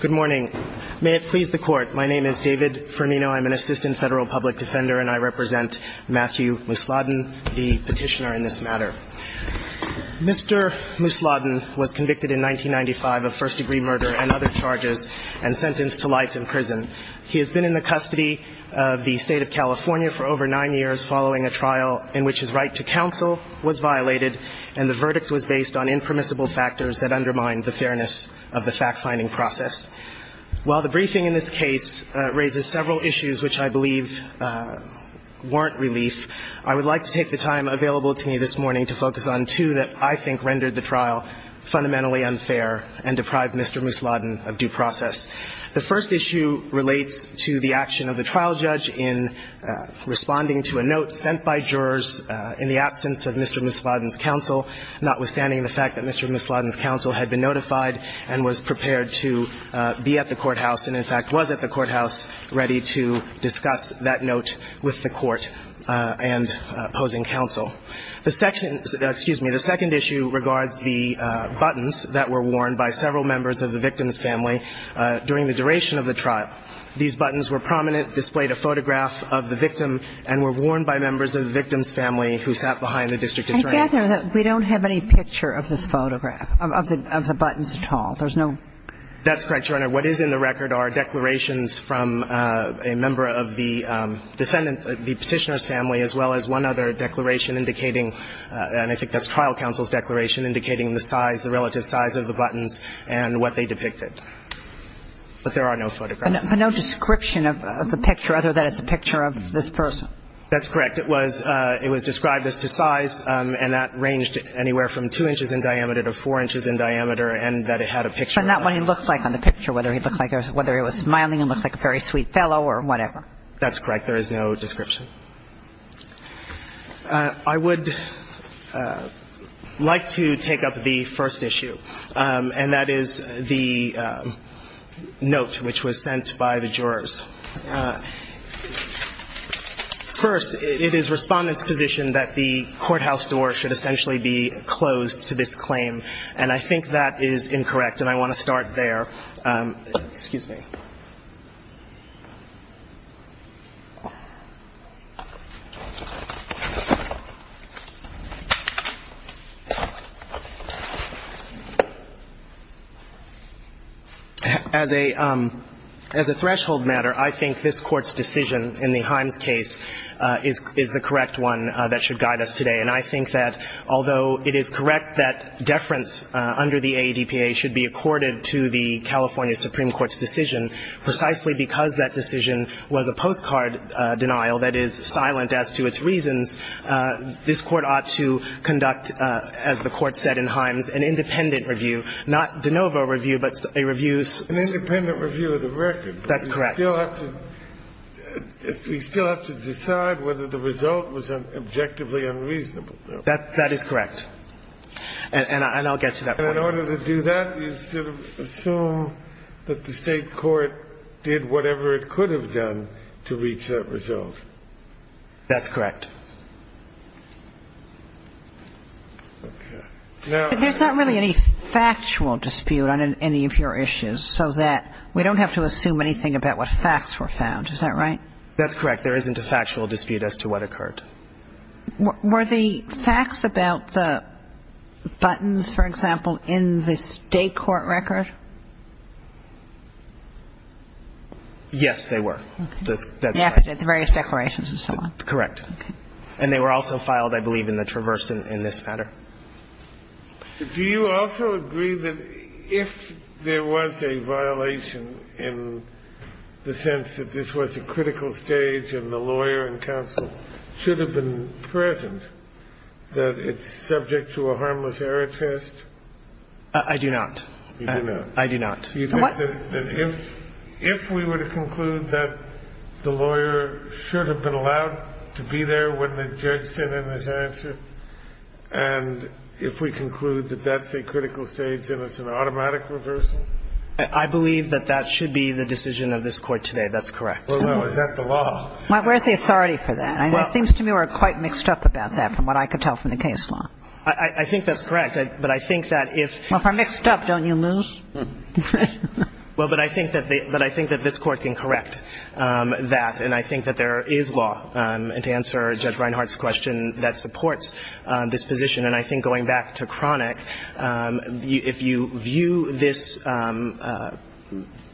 Good morning. May it please the Court, my name is David Firmino. I'm an assistant federal public defender, and I represent Matthew Musladin, the petitioner in this matter. Mr. Musladin was convicted in 1995 of first-degree murder and other charges and sentenced to life in prison. He has been in the custody of the State of California for over nine years following a trial in which his right to counsel was violated and the verdict was based on impermissible factors that undermined the fairness of the fact-finding process. While the briefing in this case raises several issues which I believe warrant relief, I would like to take the time available to me this morning to focus on two that I think rendered the trial fundamentally unfair and deprived Mr. Musladin of due process. The first issue relates to the action of the trial judge in responding to a note sent by jurors in the absence of Mr. Musladin's counsel, notwithstanding the fact that Mr. Musladin's counsel had been notified and was prepared to be at the courthouse and, in fact, was at the courthouse ready to discuss that note with the court and opposing counsel. The second issue regards the buttons that were worn by several members of the victim's family during the duration of the trial. These buttons were prominent, displayed a photograph of the victim, and were worn by members of the victim's family who sat behind the district attorney. I gather that we don't have any picture of this photograph, of the buttons at all. There's no ---- That's correct, Your Honor. What is in the record are declarations from a member of the defendant, the Petitioner's family, as well as one other declaration indicating, and I think that's trial counsel's case, indicating the size, the relative size of the buttons and what they depicted. But there are no photographs. But no description of the picture, other than it's a picture of this person. That's correct. It was described as to size, and that ranged anywhere from 2 inches in diameter to 4 inches in diameter, and that it had a picture. But not what he looked like on the picture, whether he looked like a ---- whether he was smiling and looked like a very sweet fellow or whatever. That's correct. There is no description. I would like to take up the first issue, and that is the note which was sent by the jurors. First, it is Respondent's position that the courthouse door should essentially be closed to this claim, and I think that is incorrect, and I want to start there. Excuse me. As a threshold matter, I think this Court's decision in the Himes case is the correct one that should guide us today, and I think that although it is correct that deference under the AADPA should be accorded to the California Supreme Court's decision, precisely because that decision was a postcard denial that is silent as to its reasons, this Court ought to conduct, as the Court said in Himes, an independent review, not de novo review, but a review of the record. An independent review of the record. That's correct. We still have to decide whether the result was objectively unreasonable. That is correct. And I'll get to that point. And in order to do that, is to assume that the State court did whatever it could have done to reach that result. That's correct. Okay. Now there's not really any factual dispute on any of your issues so that we don't have to assume anything about what facts were found. Is that right? That's correct. There isn't a factual dispute as to what occurred. Were the facts about the buttons, for example, in the State court record? Yes, they were. That's right. The various declarations and so on. Correct. And they were also filed, I believe, in the Traverse in this matter. Do you also agree that if there was a violation in the sense that this was a critical stage and the lawyer and counsel should have been present, that it's subject to a harmless error test? I do not. You do not. I do not. What? If we were to conclude that the lawyer should have been allowed to be there when the judge sent in his answer, and if we conclude that that's a critical stage and it's an automatic reversal? I believe that that should be the decision of this Court today. That's correct. Well, no. Is that the law? Where's the authority for that? It seems to me we're quite mixed up about that from what I could tell from the case law. I think that's correct. But I think that if... Well, if we're mixed up, don't you lose? Well, but I think that this Court can correct that. And I think that there is law, to answer Judge Reinhart's question, that supports this position. And I think going back to Kronick, if you view this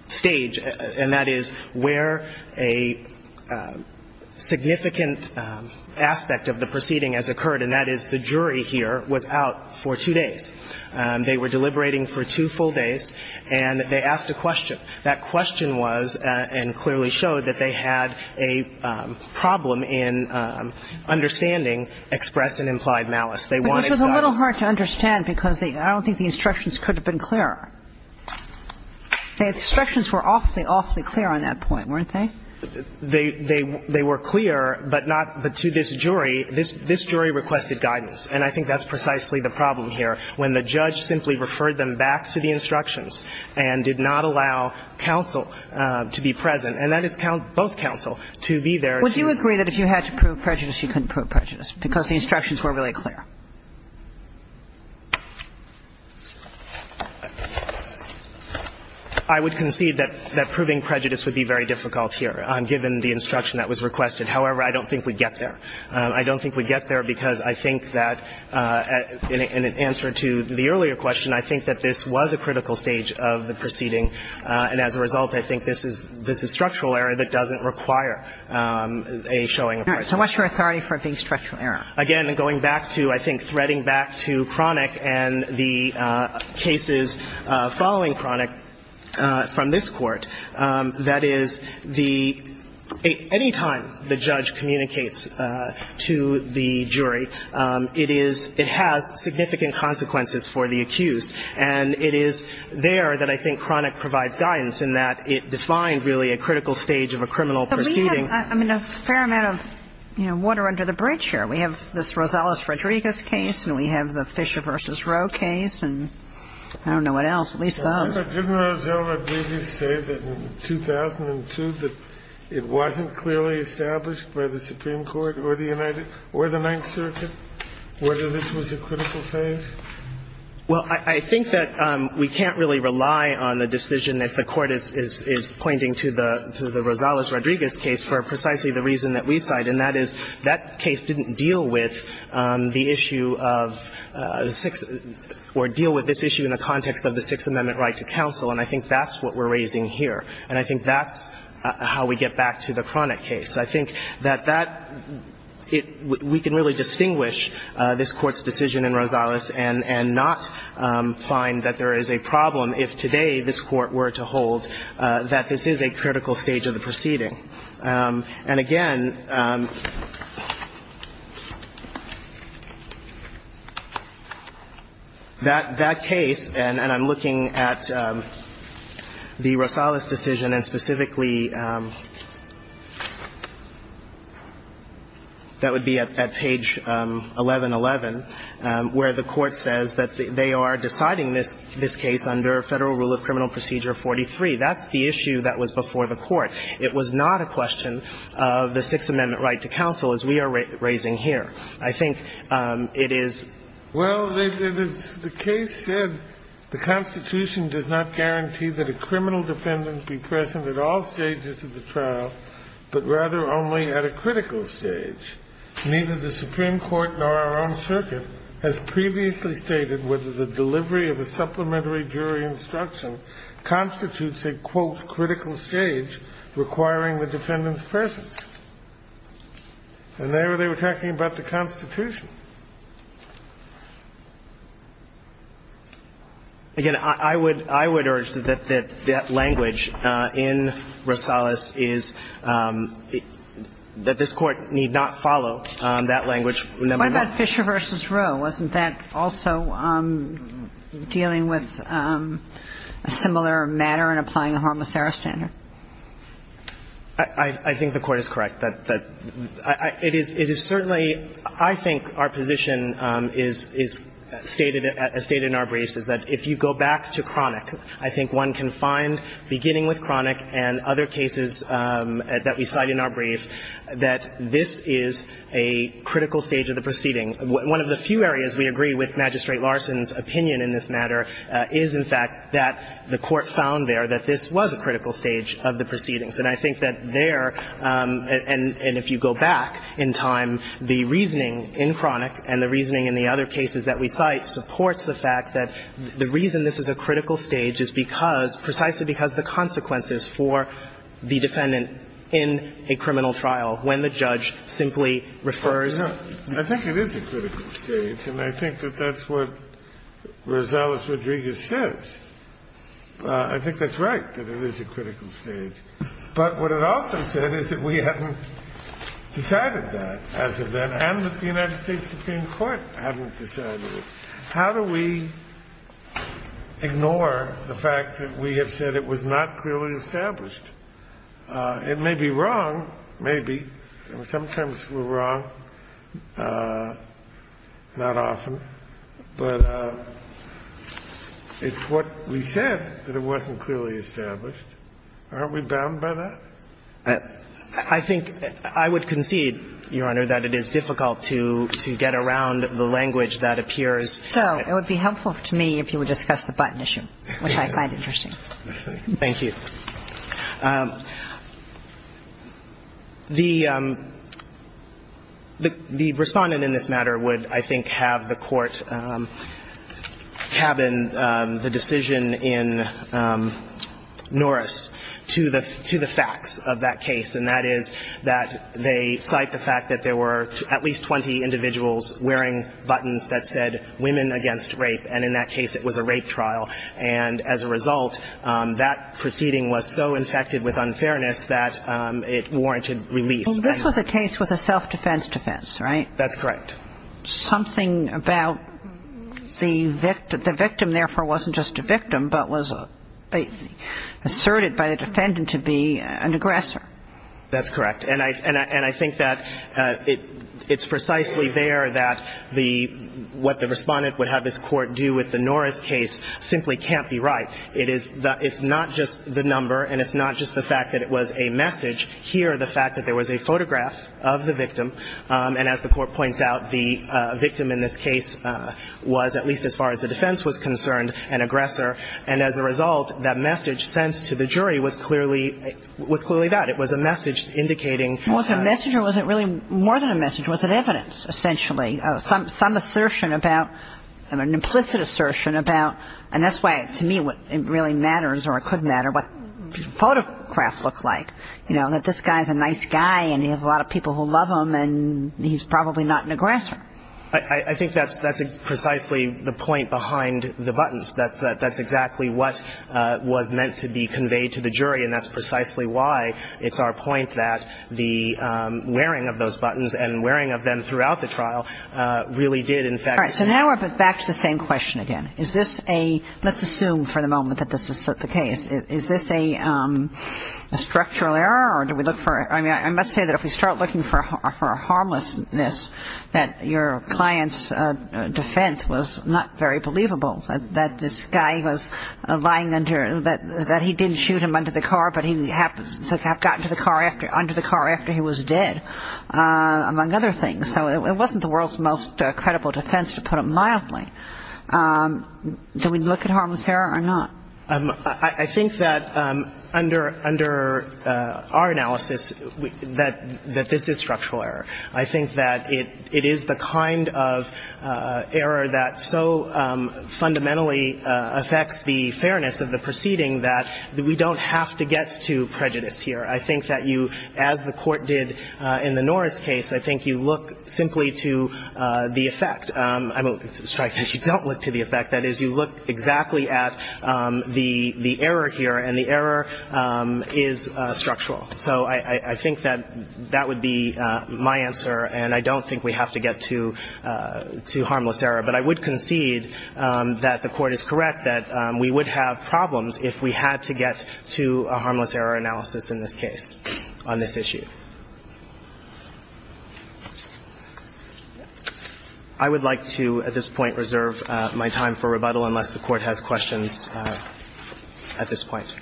stage, and that is where a significant aspect of the proceeding has occurred, and that is the jury here was out for two days. They were deliberating for two full days, and they asked a question. That question was, and clearly showed, that they had a problem in understanding express and implied malice. They wanted guidance. But it was a little hard to understand, because I don't think the instructions could have been clearer. The instructions were awfully, awfully clear on that point, weren't they? They were clear, but not to this jury. This jury requested guidance. And I think that's precisely the problem here. When the judge simply referred them back to the instructions and did not allow counsel to be present, and that is both counsel, to be there to... Would you agree that if you had to prove prejudice, you couldn't prove prejudice because the instructions were really clear? I would concede that proving prejudice would be very difficult here, given the instruction that was requested. However, I don't think we'd get there. I don't think we'd get there because I think that in answer to the earlier question, I think that this was a critical stage of the proceeding. And as a result, I think this is a structural error that doesn't require a showing of prejudice. So what's your authority for it being structural error? Again, going back to, I think, threading back to Cronick and the cases following Cronick from this Court, that is, the – anytime the judge communicates to the jury, it is – it has significant consequences for the accused. And it is there that I think Cronick provides guidance in that it defined, really, a critical stage of a criminal proceeding. We have, I mean, a fair amount of, you know, water under the bridge here. We have this Rosales-Rodriguez case, and we have the Fisher v. Roe case, and I don't know what else, at least those. But didn't Rosales-Rodriguez say that in 2002 that it wasn't clearly established by the Supreme Court or the United – or the Ninth Circuit whether this was a critical phase? Well, I think that we can't really rely on the decision if the Court is pointing to the Rosales-Rodriguez case for precisely the reason that we cite, and that is that case didn't deal with the issue of the Sixth – or deal with this issue in the context of the Sixth Amendment right to counsel, and I think that's what we're raising here, and I think that's how we get back to the Cronick case. I think that that – we can really distinguish this Court's decision in Rosales and not find that there is a problem if today this Court were to hold that this is a critical stage of the proceeding. And again, that case, and I'm looking at the Rosales decision, and specifically that would be at page 1111, where the Court says that they are deciding this case under Federal rule of criminal procedure 43. That's the issue that was before the Court. It was not a question of the Sixth Amendment right to counsel, as we are raising here. I think it is – Well, the case said the Constitution does not guarantee that a criminal defendant be present at all stages of the trial, but rather only at a critical stage. Neither the Supreme Court nor our own circuit has previously stated whether the delivery of a supplementary jury instruction constitutes a, quote, critical stage requiring the defendant's presence. And there they were talking about the Constitution. Again, I would – I would urge that that language in Rosales is – that this Court need not follow that language. What about Fisher v. Roe? Wasn't that also dealing with a similar matter in applying a harmless error standard? I think the Court is correct. It is – it is certainly – I think our position is stated – as stated in our briefs is that if you go back to Cronick, I think one can find, beginning with Cronick and other cases that we cite in our brief, that this is a critical stage of the proceeding. One of the few areas we agree with Magistrate Larson's opinion in this matter is, in fact, that the Court found there that this was a critical stage of the proceedings. And I think that there – and if you go back in time, the reasoning in Cronick and the reasoning in the other cases that we cite supports the fact that the reason this is a critical stage is because – precisely because the consequences for the defendant in a criminal trial, when the judge simply refers to the defendant. I think it is a critical stage, and I think that that's what Rosales-Rodriguez says. I think that's right, that it is a critical stage. But what it also said is that we hadn't decided that as of then, and that the United States Supreme Court hadn't decided it. How do we ignore the fact that we have said it was not clearly established? It may be wrong. Maybe. Sometimes we're wrong. Not often. But it's what we said, that it wasn't clearly established. Aren't we bound by that? I think I would concede, Your Honor, that it is difficult to get around the language that appears. So it would be helpful to me if you would discuss the button issue, which I find interesting. Thank you. The respondent in this matter would, I think, have the court cabin the decision in Norris to the facts of that case, and that is that they cite the fact that there were at least 20 individuals wearing buttons that said, women against rape, and in that case it was a rape trial. And as a result, that proceeding was so infected with unfairness that it warranted relief. And this was a case with a self-defense defense, right? That's correct. Something about the victim. The victim, therefore, wasn't just a victim, but was asserted by the defendant to be an aggressor. That's correct. And I think the question is, what does the court do with the Norris case simply can't be right. It is the – it's not just the number and it's not just the fact that it was a message. Here, the fact that there was a photograph of the victim, and as the Court points out, the victim in this case was, at least as far as the defense was concerned, an aggressor. And as a result, that message sent to the jury was clearly – was clearly that. It was a message indicating that the defendant was an aggressor. And that's why, to me, what really matters, or it could matter, what photographs look like. You know, that this guy's a nice guy and he has a lot of people who love him, and he's probably not an aggressor. I think that's precisely the point behind the buttons. That's exactly what was meant to be conveyed to the jury, and that's precisely why it's our point that the wearing of those buttons and wearing of them throughout the trial really did, in fact – All right, so now we're back to the same question again. Is this a – let's assume for the moment that this is the case. Is this a structural error, or do we look for – I mean, I must say that if we start looking for a harmlessness, that your client's defense was not very believable, that this guy was lying under – that he didn't shoot him under the car, but he happened to have gotten to the car after – under the car after he was dead, among other things. So it wasn't the world's most credible defense, to put it mildly. Do we look at harmlessness or not? I think that under our analysis that this is structural error. I think that it is the kind of error that so fundamentally affects the fairness of the proceeding that we don't have to get to prejudice here. I think that you, as the Court did in the Norris case, I think you look simply to the effect – I mean, strike that you don't look to the effect. That is, you look exactly at the error here, and the error is structural. So I think that that would be my answer, and I don't think we have to get to harmless error. But I would concede that the Court is correct that we would have problems if we had to get to a harmless error analysis in this case on this issue. I would like to at this point reserve my time for rebuttal unless the Court has questions at this point.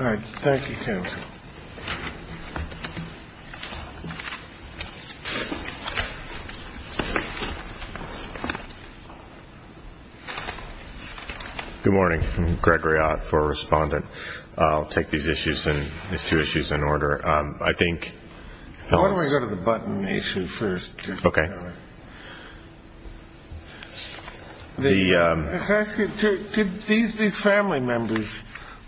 All right. Thank you, counsel. Good morning. I'm Gregory Ott for Respondent. I'll take these two issues in order. I think – Why don't we go to the button issue first? Okay. Did these family members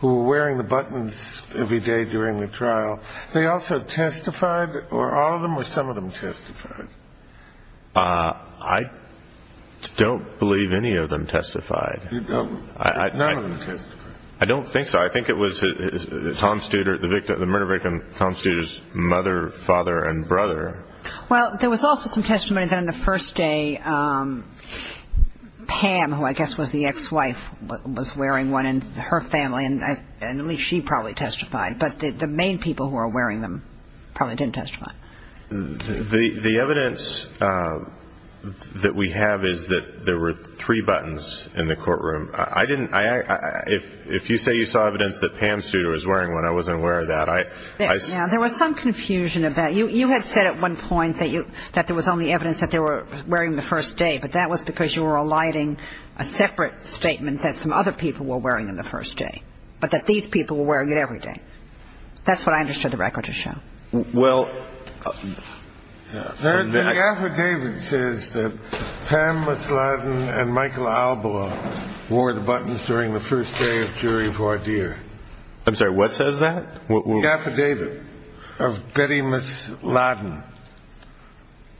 who were wearing the buttons every day during the trial, they also testified, or all of them, or some of them testified? I don't believe any of them testified. None of them testified. I don't think so. I think it was Tom Studer, the murder victim, Tom Studer's mother, father, and brother. Well, there was also some testimony that on the first day Pam, who I guess was the ex-wife, was wearing one, and her family, and at least she probably testified. But the main people who were wearing them probably didn't testify. The evidence that we have is that there were three buttons in the courtroom. I didn't – if you say you saw evidence that Pam Studer was wearing one, I wasn't aware of that. There was some confusion about it. You had said at one point that there was only evidence that they were wearing them the first day, but that was because you were eliding a separate statement that some other people were wearing them the first day, but that these people were wearing it every day. That's what I understood the record to show. Well – The affidavit says that Pam Misladden and Michael Alboa wore the buttons during the first day of jury voir dire. I'm sorry, what says that? The affidavit of Betty Misladden.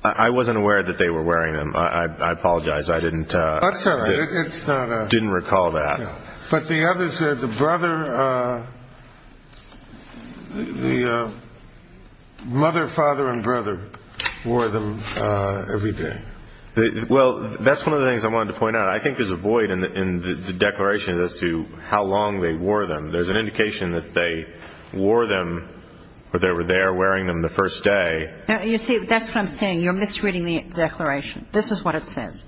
I wasn't aware that they were wearing them. I apologize. I didn't – That's all right. It's not a – Didn't recall that. But the others, the brother – the mother, father, and brother wore them every day. Well, that's one of the things I wanted to point out. I think there's a void in the declaration as to how long they wore them. There's an indication that they wore them or they were there wearing them the first day. You see, that's what I'm saying. You're misreading the declaration. This is what it says.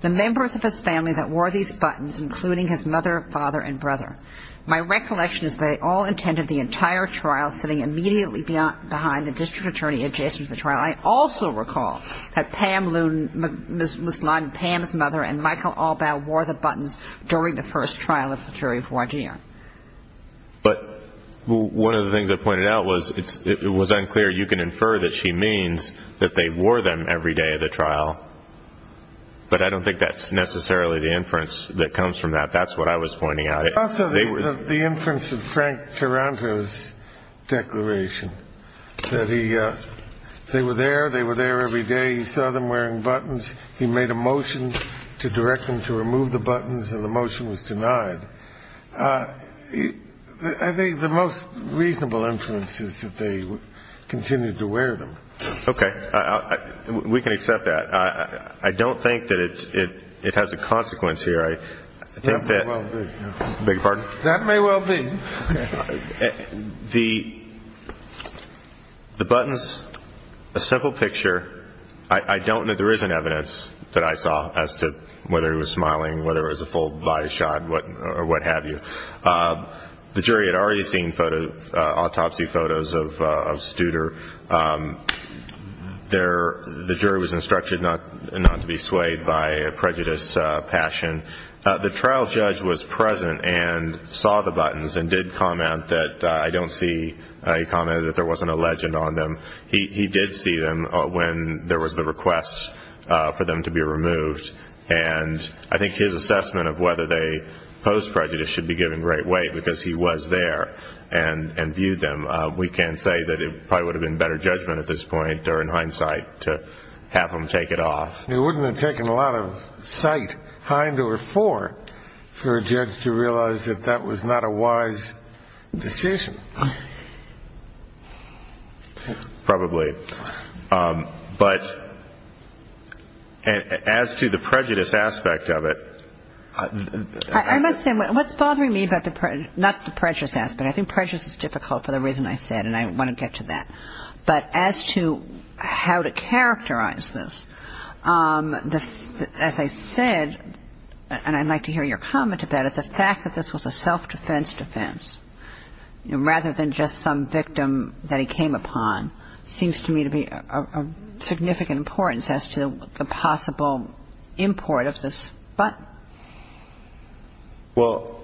The members of his family that wore these buttons, including his mother, father, and brother. My recollection is they all attended the entire trial, sitting immediately behind the district attorney adjacent to the trial. I also recall that Pam Misladden, Pam's mother, and Michael Alboa wore the buttons during the first trial of jury voir dire. But one of the things I pointed out was it was unclear. You can infer that she means that they wore them every day of the trial. But I don't think that's necessarily the inference that comes from that. That's what I was pointing out. Also, the inference of Frank Taranto's declaration, that they were there, they were there every day. He saw them wearing buttons. He made a motion to direct them to remove the buttons, and the motion was denied. I think the most reasonable inference is that they continued to wear them. Okay. We can accept that. I don't think that it has a consequence here. I think that. That may well be. Beg your pardon? That may well be. The buttons, a simple picture. I don't know. There isn't evidence that I saw as to whether he was smiling, whether it was a full biased shot or what have you. The jury had already seen autopsy photos of Studer. The jury was instructed not to be swayed by prejudice, passion. The trial judge was present and saw the buttons and did comment that I don't see. He commented that there wasn't a legend on them. He did see them when there was the request for them to be removed, and I think his assessment of whether they posed prejudice should be given great weight because he was there and viewed them. We can say that it probably would have been better judgment at this point or in hindsight to have them take it off. It wouldn't have taken a lot of sight, hind or fore, for a judge to realize that that was not a wise decision. Probably. But as to the prejudice aspect of it. I must say, what's bothering me about the prejudice, not the prejudice aspect. I think prejudice is difficult for the reason I said, and I want to get to that. But as to how to characterize this. As I said, and I'd like to hear your comment about it, the fact that this was a self-defense defense, rather than just some victim that he came upon, seems to me to be of significant importance as to the possible import of this button. Well,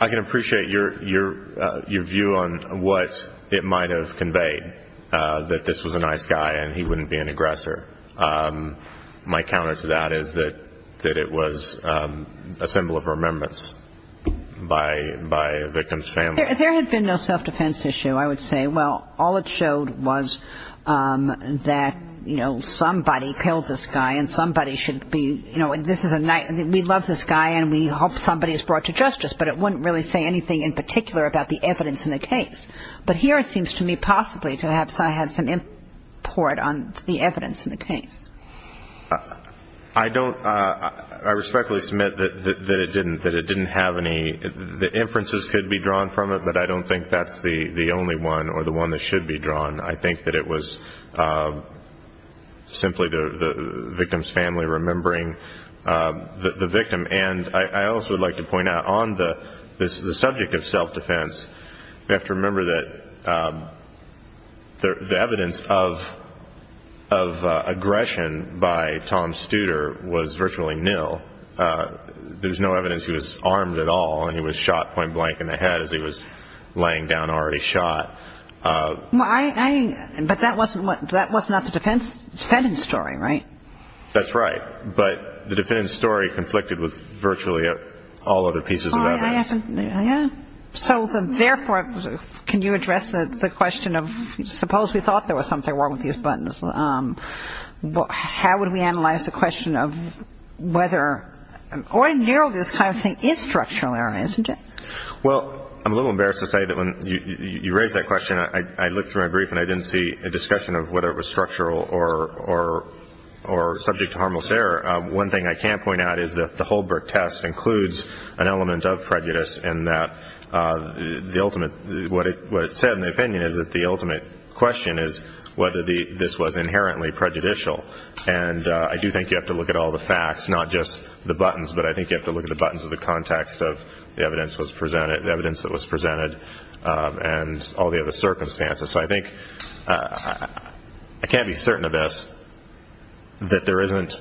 I can appreciate your view on what it might have conveyed, that this was a nice guy and he wouldn't be an aggressor. My counter to that is that it was a symbol of remembrance by a victim's family. If there had been no self-defense issue, I would say, well, all it showed was that, you know, we love this guy and we hope somebody is brought to justice, but it wouldn't really say anything in particular about the evidence in the case. But here it seems to me possibly to have had some import on the evidence in the case. I respectfully submit that it didn't have any. The inferences could be drawn from it, but I don't think that's the only one or the one that should be drawn. I think that it was simply the victim's family remembering the victim. And I also would like to point out on the subject of self-defense, we have to remember that the evidence of aggression by Tom Studer was virtually nil. There was no evidence he was armed at all and he was shot point blank in the head as he was laying down already shot. But that was not the defendant's story, right? That's right. But the defendant's story conflicted with virtually all other pieces of evidence. So therefore, can you address the question of suppose we thought there was something wrong with these buttons, how would we analyze the question of whether or nil this kind of thing is structural error, isn't it? Well, I'm a little embarrassed to say that when you raised that question, I looked through my brief and I didn't see a discussion of whether it was structural or subject to harmless error. One thing I can point out is that the Holberg test includes an element of prejudice in that the ultimate, what it said in the opinion is that the ultimate question is whether this was inherently prejudicial. And I do think you have to look at all the facts, not just the buttons, but I think you have to look at the buttons of the context of the evidence that was presented and all the other circumstances. So I think I can't be certain of this, that there isn't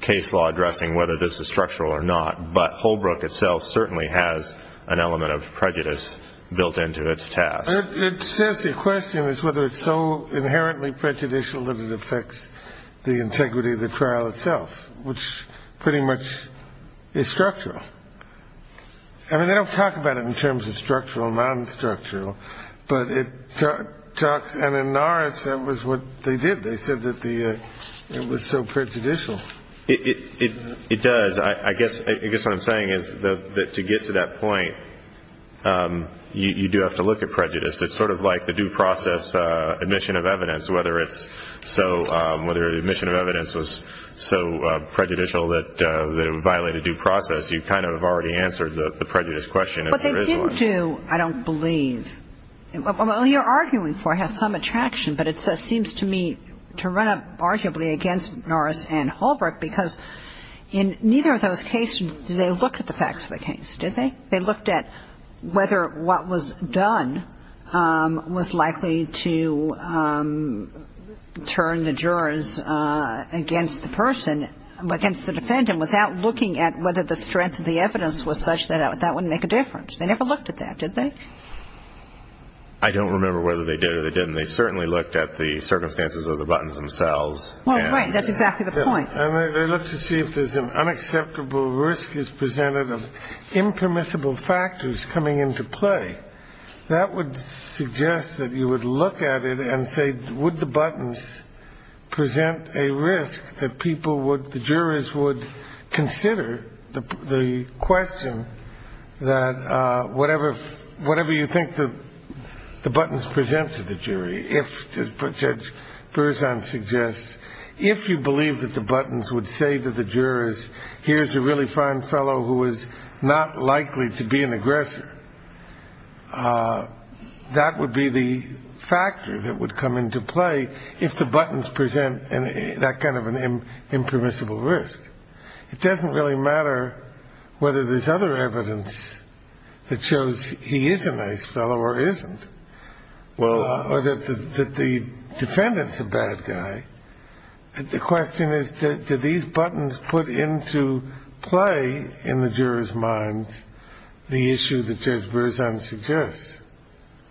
case law addressing whether this is structural or not, but Holbrook itself certainly has an element of prejudice built into its test. It says the question is whether it's so inherently prejudicial that it affects the integrity of the trial itself, which pretty much is structural. I mean, they don't talk about it in terms of structural and non-structural, but it talks. And in Norris, that was what they did. They said that it was so prejudicial. It does. I guess what I'm saying is that to get to that point, you do have to look at prejudice. It's sort of like the due process admission of evidence, whether it's so ‑‑ whether the admission of evidence was so prejudicial that it would violate a due process. You kind of have already answered the prejudice question. But they didn't do, I don't believe, what you're arguing for has some attraction, but it seems to me to run up arguably against Norris and Holbrook, because in neither of those cases did they look at the facts of the case, did they? They looked at whether what was done was likely to turn the jurors against the person, against the defendant, without looking at whether the strength of the evidence was such that that would make a difference. They never looked at that, did they? I don't remember whether they did or they didn't. They certainly looked at the circumstances of the buttons themselves. Well, right, that's exactly the point. And they looked to see if there's an unacceptable risk is presented of impermissible factors coming into play. That would suggest that you would look at it and say, would the buttons present a risk that people would, the jurors would, consider the question that whatever you think the buttons present to the jury, if, as Judge Berzon suggests, if you believe that the buttons would say to the jurors, here's a really fine fellow who is not likely to be an aggressor, that would be the factor that would come into play if the buttons present that kind of an impermissible risk. It doesn't really matter whether there's other evidence that shows he is a nice fellow or isn't, or that the defendant's a bad guy. The question is, do these buttons put into play in the jurors' minds the issue that Judge Berzon suggests?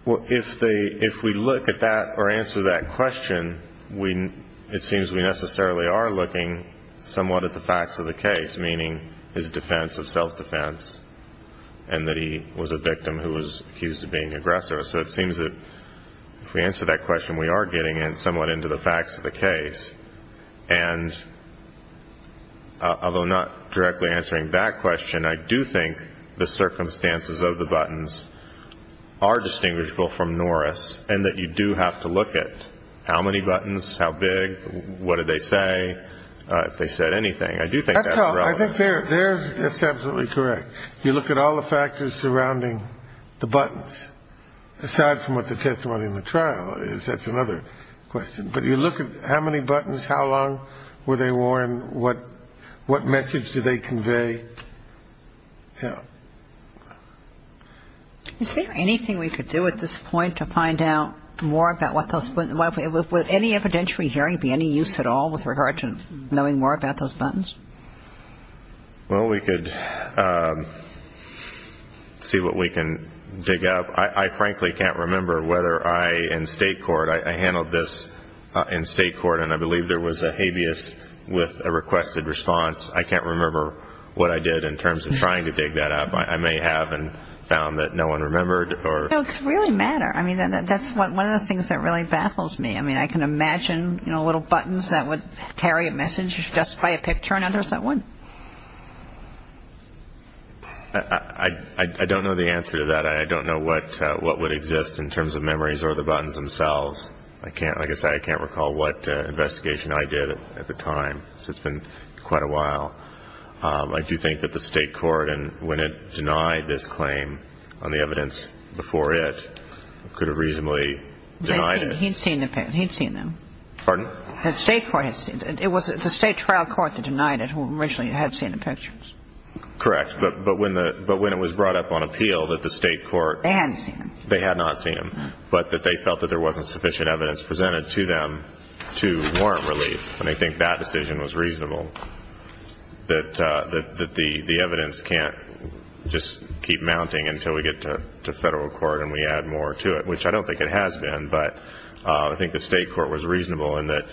Well, if we look at that or answer that question, it seems we necessarily are looking somewhat at the facts of the case, meaning his defense of self-defense and that he was a victim who was accused of being an aggressor. So it seems that if we answer that question, we are getting somewhat into the facts of the case. And although not directly answering that question, I do think the circumstances of the buttons are distinguishable from Norris and that you do have to look at how many buttons, how big, what did they say, if they said anything. I do think that's relevant. I think that's absolutely correct. You look at all the factors surrounding the buttons. Aside from what the testimony in the trial is, that's another question. But you look at how many buttons, how long were they worn, what message do they convey. Yeah. Is there anything we could do at this point to find out more about what those – would any evidentiary hearing be any use at all with regard to knowing more about those buttons? Well, we could see what we can dig up. I frankly can't remember whether I, in state court, I handled this in state court and I believe there was a habeas with a requested response. I can't remember what I did in terms of trying to dig that up. I may have found that no one remembered. No, it could really matter. I mean, that's one of the things that really baffles me. I mean, I can imagine, you know, little buttons that would carry a message, just play a picture, and now there's that one. I don't know the answer to that. I don't know what would exist in terms of memories or the buttons themselves. I can't – like I said, I can't recall what investigation I did at the time. It's been quite a while. I do think that the state court, when it denied this claim on the evidence before it, could have reasonably denied it. He'd seen them. Pardon? The state court has seen them. It was the state trial court that denied it who originally had seen the pictures. Correct. But when it was brought up on appeal that the state court – They hadn't seen them. They had not seen them, but that they felt that there wasn't sufficient evidence presented to them to warrant relief. And I think that decision was reasonable, that the evidence can't just keep mounting until we get to federal court and we add more to it, which I don't think it has been. But I think the state court was reasonable in that,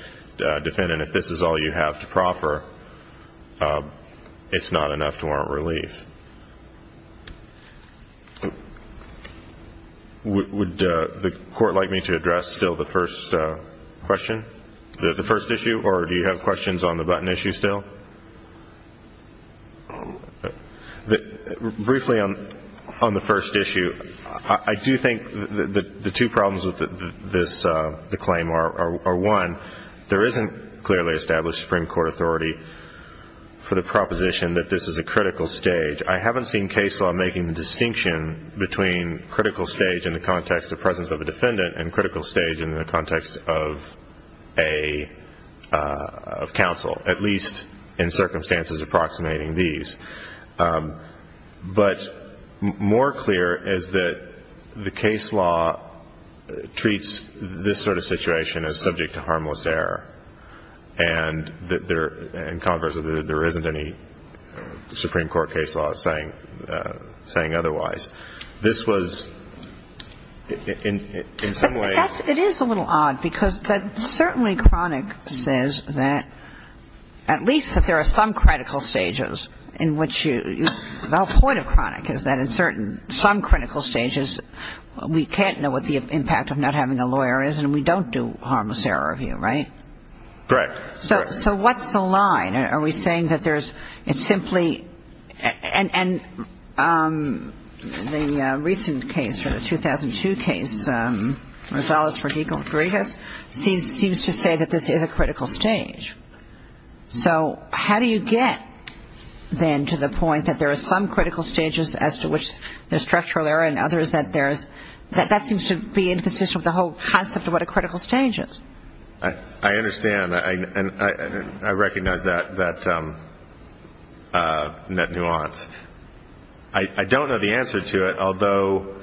defendant, if this is all you have to proffer, it's not enough to warrant relief. Would the court like me to address still the first question, the first issue, or do you have questions on the button issue still? Briefly on the first issue, I do think the two problems with the claim are, one, there isn't clearly established Supreme Court authority for the proposition that this is a critical stage. I haven't seen case law making the distinction between critical stage in the context of presence of a defendant and critical stage in the context of counsel, at least in circumstances approximating these. But more clear is that the case law treats this sort of situation as subject to harmless error and, conversely, there isn't any Supreme Court case law saying otherwise. This was, in some ways ‑‑ But it is a little odd because that certainly chronic says that, at least that there are some critical stages in which you ‑‑ The whole point of chronic is that in certain, some critical stages, we can't know what the impact of not having a lawyer is and we don't do harmless error review, right? Correct. So what's the line? Are we saying that there's simply ‑‑ And the recent case, the 2002 case, Rosales v. Grigas, seems to say that this is a critical stage. So how do you get then to the point that there are some critical stages as to which there's structural error and others that there's ‑‑ that seems to be inconsistent with the whole concept of what a critical stage is. I understand. I recognize that nuance. I don't know the answer to it, although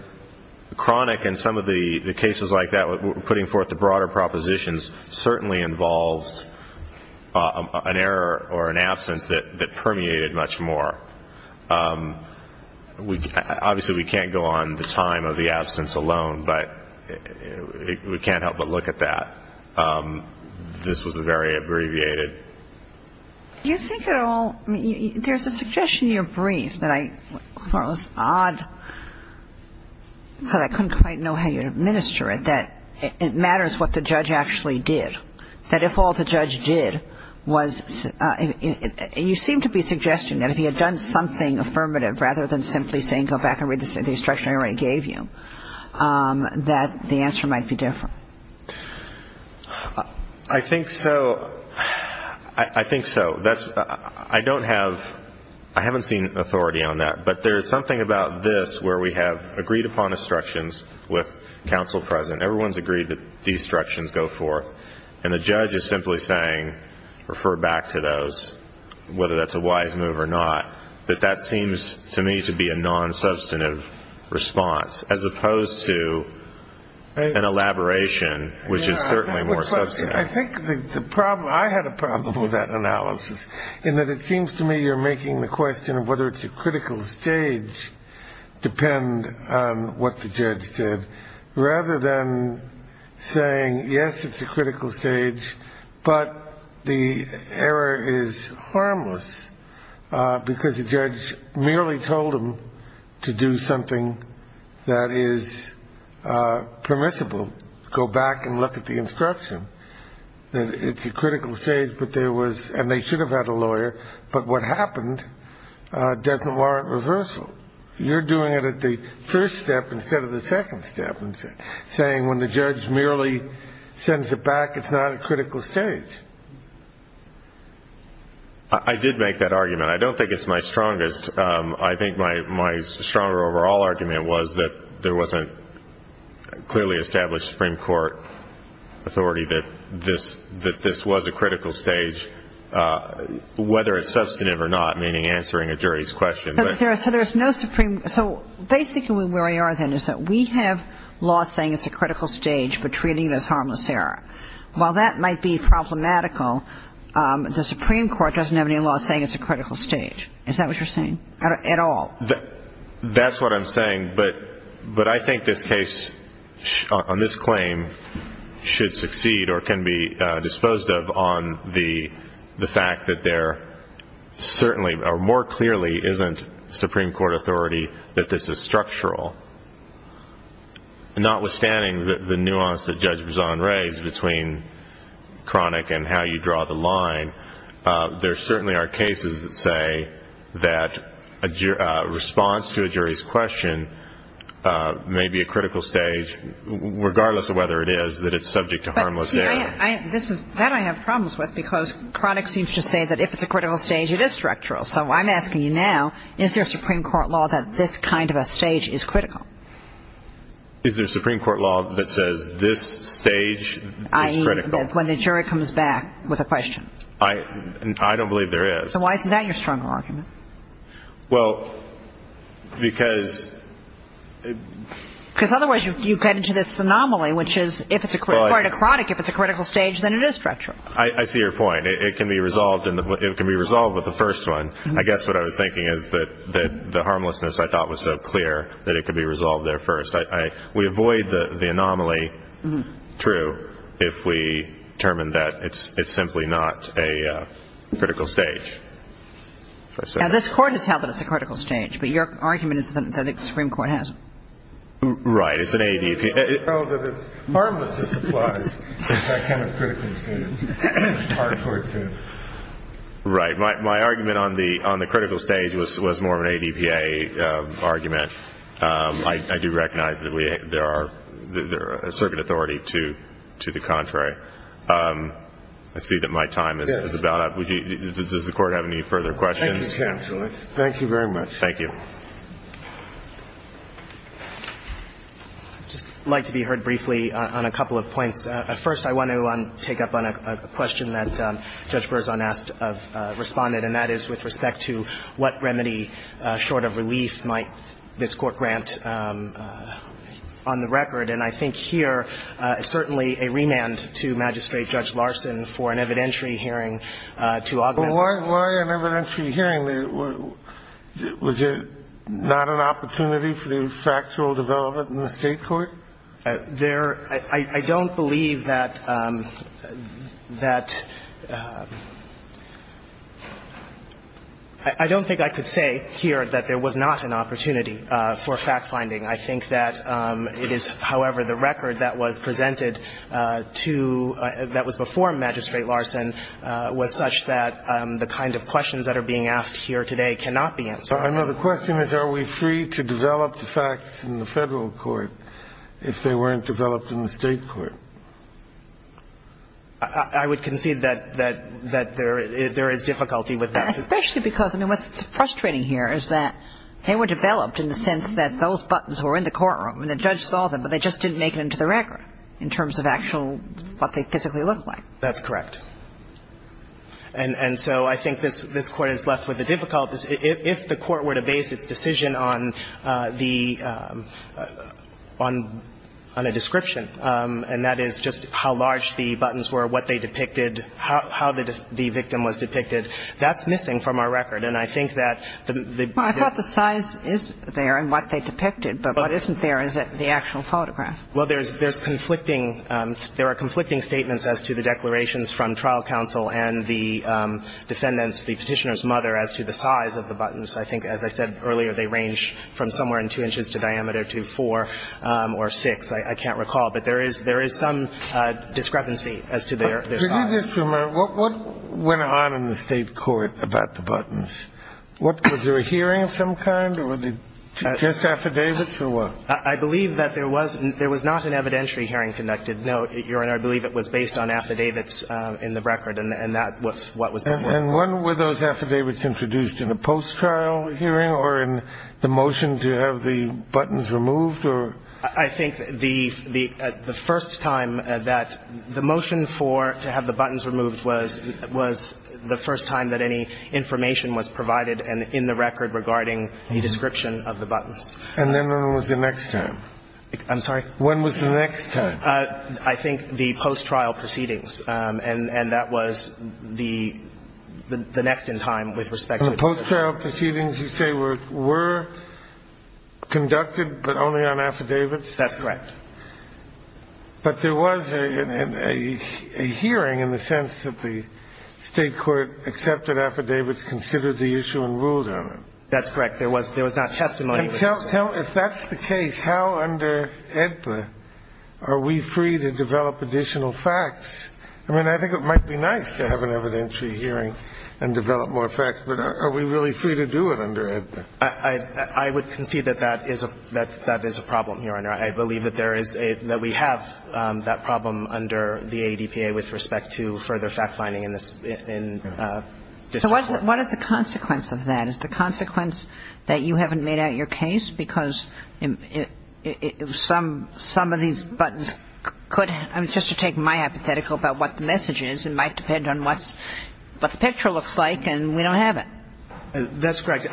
chronic and some of the cases like that, putting forth the broader propositions, certainly involves an error or an absence that permeated much more. Obviously, we can't go on the time of the absence alone, but we can't help but look at that. This was very abbreviated. Do you think at all, I mean, there's a suggestion in your brief that I thought was odd because I couldn't quite know how you'd administer it, that it matters what the judge actually did, that if all the judge did was ‑‑ you seem to be suggesting that if he had done something affirmative rather than simply saying go back and read the instruction I already gave you, that the answer might be different. I think so. I think so. I don't have ‑‑ I haven't seen authority on that, but there's something about this where we have agreed upon instructions with counsel present. Everyone's agreed that these instructions go forth, and the judge is simply saying refer back to those, whether that's a wise move or not, that that seems to me to be a nonsubstantive response as opposed to an elaboration, which is certainly more substantive. I think the problem, I had a problem with that analysis, in that it seems to me you're making the question of whether it's a critical stage depend on what the judge did rather than saying yes, it's a critical stage, but the error is harmless because the judge merely told him to do something that is permissible, go back and look at the instruction. It's a critical stage, but there was ‑‑ and they should have had a lawyer, but what happened doesn't warrant reversal. You're doing it at the first step instead of the second step and saying when the judge merely sends it back, it's not a critical stage. I did make that argument. I don't think it's my strongest. I think my stronger overall argument was that there wasn't clearly established Supreme Court authority that this was a critical stage, whether it's substantive or not, meaning answering a jury's question. So there's no Supreme ‑‑ so basically where we are then is that we have law saying it's a critical stage but treating it as harmless error. While that might be problematical, the Supreme Court doesn't have any law saying it's a critical stage. Is that what you're saying at all? That's what I'm saying, but I think this case on this claim should succeed or can be disposed of on the fact that there certainly or more clearly isn't Supreme Court authority that this is structural. Notwithstanding the nuance that Judge Bazan raised between chronic and how you draw the line, there certainly are cases that say that a response to a jury's question may be a critical stage, regardless of whether it is that it's subject to harmless error. That I have problems with because chronic seems to say that if it's a critical stage, it is structural. So I'm asking you now, is there a Supreme Court law that this kind of a stage is critical? Is there a Supreme Court law that says this stage is critical? I mean when the jury comes back with a question. I don't believe there is. So why isn't that your stronger argument? Well, because. Because otherwise you get into this anomaly, which is if it's a chronic, if it's a critical stage, then it is structural. I see your point. It can be resolved with the first one. I guess what I was thinking is that the harmlessness I thought was so clear that it could be resolved there first. We avoid the anomaly, true, if we determine that it's simply not a critical stage. Now this Court has held that it's a critical stage, but your argument is that the Supreme Court has. Right. It's an ADPA. It's harmless to supplies. It's that kind of critical stage. It's hard for it to. Right. My argument on the critical stage was more of an ADPA argument. I do recognize that there are a certain authority to the contrary. I see that my time is about up. Does the Court have any further questions? Thank you, counsel. Thank you very much. Thank you. I'd just like to be heard briefly on a couple of points. First, I want to take up on a question that Judge Berzon asked of Respondent, and that is with respect to what remedy, short of relief, might this Court grant on the record. And I think here certainly a remand to Magistrate Judge Larson for an evidentiary hearing to augment that. But why an evidentiary hearing? Was it not an opportunity for the factual development in the State court? I don't believe that that I don't think I could say here that there was not an opportunity for fact-finding. I think that it is, however, the record that was presented to that was before Magistrate Larson was such that the kind of questions that are being asked here today cannot be answered. Another question is, are we free to develop the facts in the Federal court if they weren't developed in the State court? I would concede that there is difficulty with that. Especially because, I mean, what's frustrating here is that they were developed in the sense that those buttons were in the courtroom and the judge saw them, but they just didn't make it into the record in terms of actual what they physically looked like. That's correct. And so I think this Court is left with the difficulty. If the Court were to base its decision on the – on a description, and that is just how large the buttons were, what they depicted, how the victim was depicted, that's missing from our record. And I think that the – Well, I thought the size is there and what they depicted, but what isn't there is the actual photograph. Well, there's conflicting – there are conflicting statements as to the declarations from trial counsel and the defendants, the Petitioner's mother, as to the size of the buttons. I think, as I said earlier, they range from somewhere in 2 inches to diameter to 4 or 6. I can't recall. But there is – there is some discrepancy as to their size. But to do this for a moment, what went on in the State court about the buttons? What – was there a hearing of some kind or were they just affidavits or what? I believe that there was – there was not an evidentiary hearing conducted. No, Your Honor. I believe it was based on affidavits in the record and that was what was before. And when were those affidavits introduced? In a post-trial hearing or in the motion to have the buttons removed or? I think the first time that – the motion for – to have the buttons removed was the first time that any information was provided in the record regarding the description of the buttons. And then when was the next time? I'm sorry? When was the next time? I think the post-trial proceedings. And that was the – the next in time with respect to the. The post-trial proceedings, you say, were conducted but only on affidavits? That's correct. But there was a hearing in the sense that the State court accepted affidavits, considered the issue and ruled on it. That's correct. There was – there was not testimony. If that's the case, how under AEDPA are we free to develop additional facts? I mean, I think it might be nice to have an evidentiary hearing and develop more facts, but are we really free to do it under AEDPA? I would concede that that is a problem, Your Honor. I believe that there is a – that we have that problem under the ADPA with respect to further fact-finding in this court. So what is the consequence of that? Is the consequence that you haven't made out your case? Because some of these buttons could – I mean, just to take my hypothetical about what the message is, it might depend on what the picture looks like, and we don't have it. That's correct.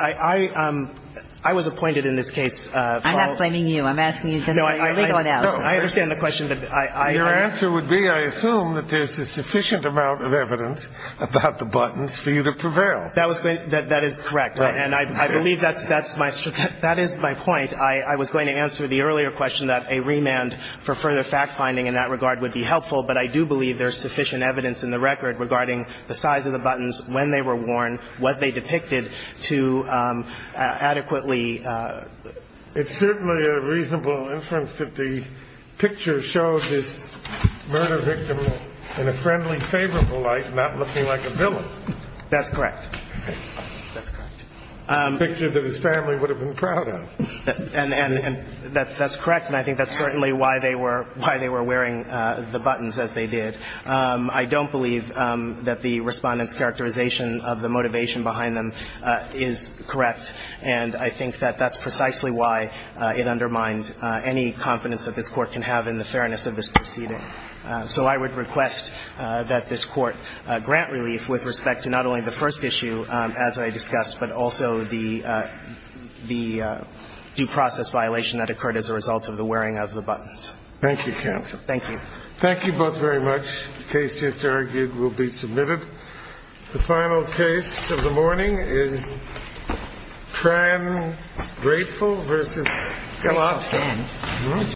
I was appointed in this case. I'm not blaming you. I'm asking you for your legal analysis. No, I understand the question. Your answer would be, I assume, that there's a sufficient amount of evidence about the buttons for you to prevail. That is correct. And I believe that's my – that is my point. I was going to answer the earlier question that a remand for further fact-finding in that regard would be helpful, but I do believe there's sufficient evidence in the record regarding the size of the buttons, when they were worn, what they depicted to adequately. It's certainly a reasonable inference that the picture shows this murder victim in a friendly, favorable light, not looking like a villain. That's correct. That's correct. A picture that his family would have been proud of. And that's correct, and I think that's certainly why they were wearing the buttons as they did. I don't believe that the Respondent's characterization of the motivation behind them is correct, and I think that that's precisely why it undermined any confidence that this Court can have in the fairness of this proceeding. So I would request that this Court grant relief with respect to not only the first case issue, as I discussed, but also the due process violation that occurred as a result of the wearing of the buttons. Thank you, counsel. Thank you. Thank you both very much. The case just argued will be submitted. The final case of the morning is Tran-Grapeville v. Kellogg.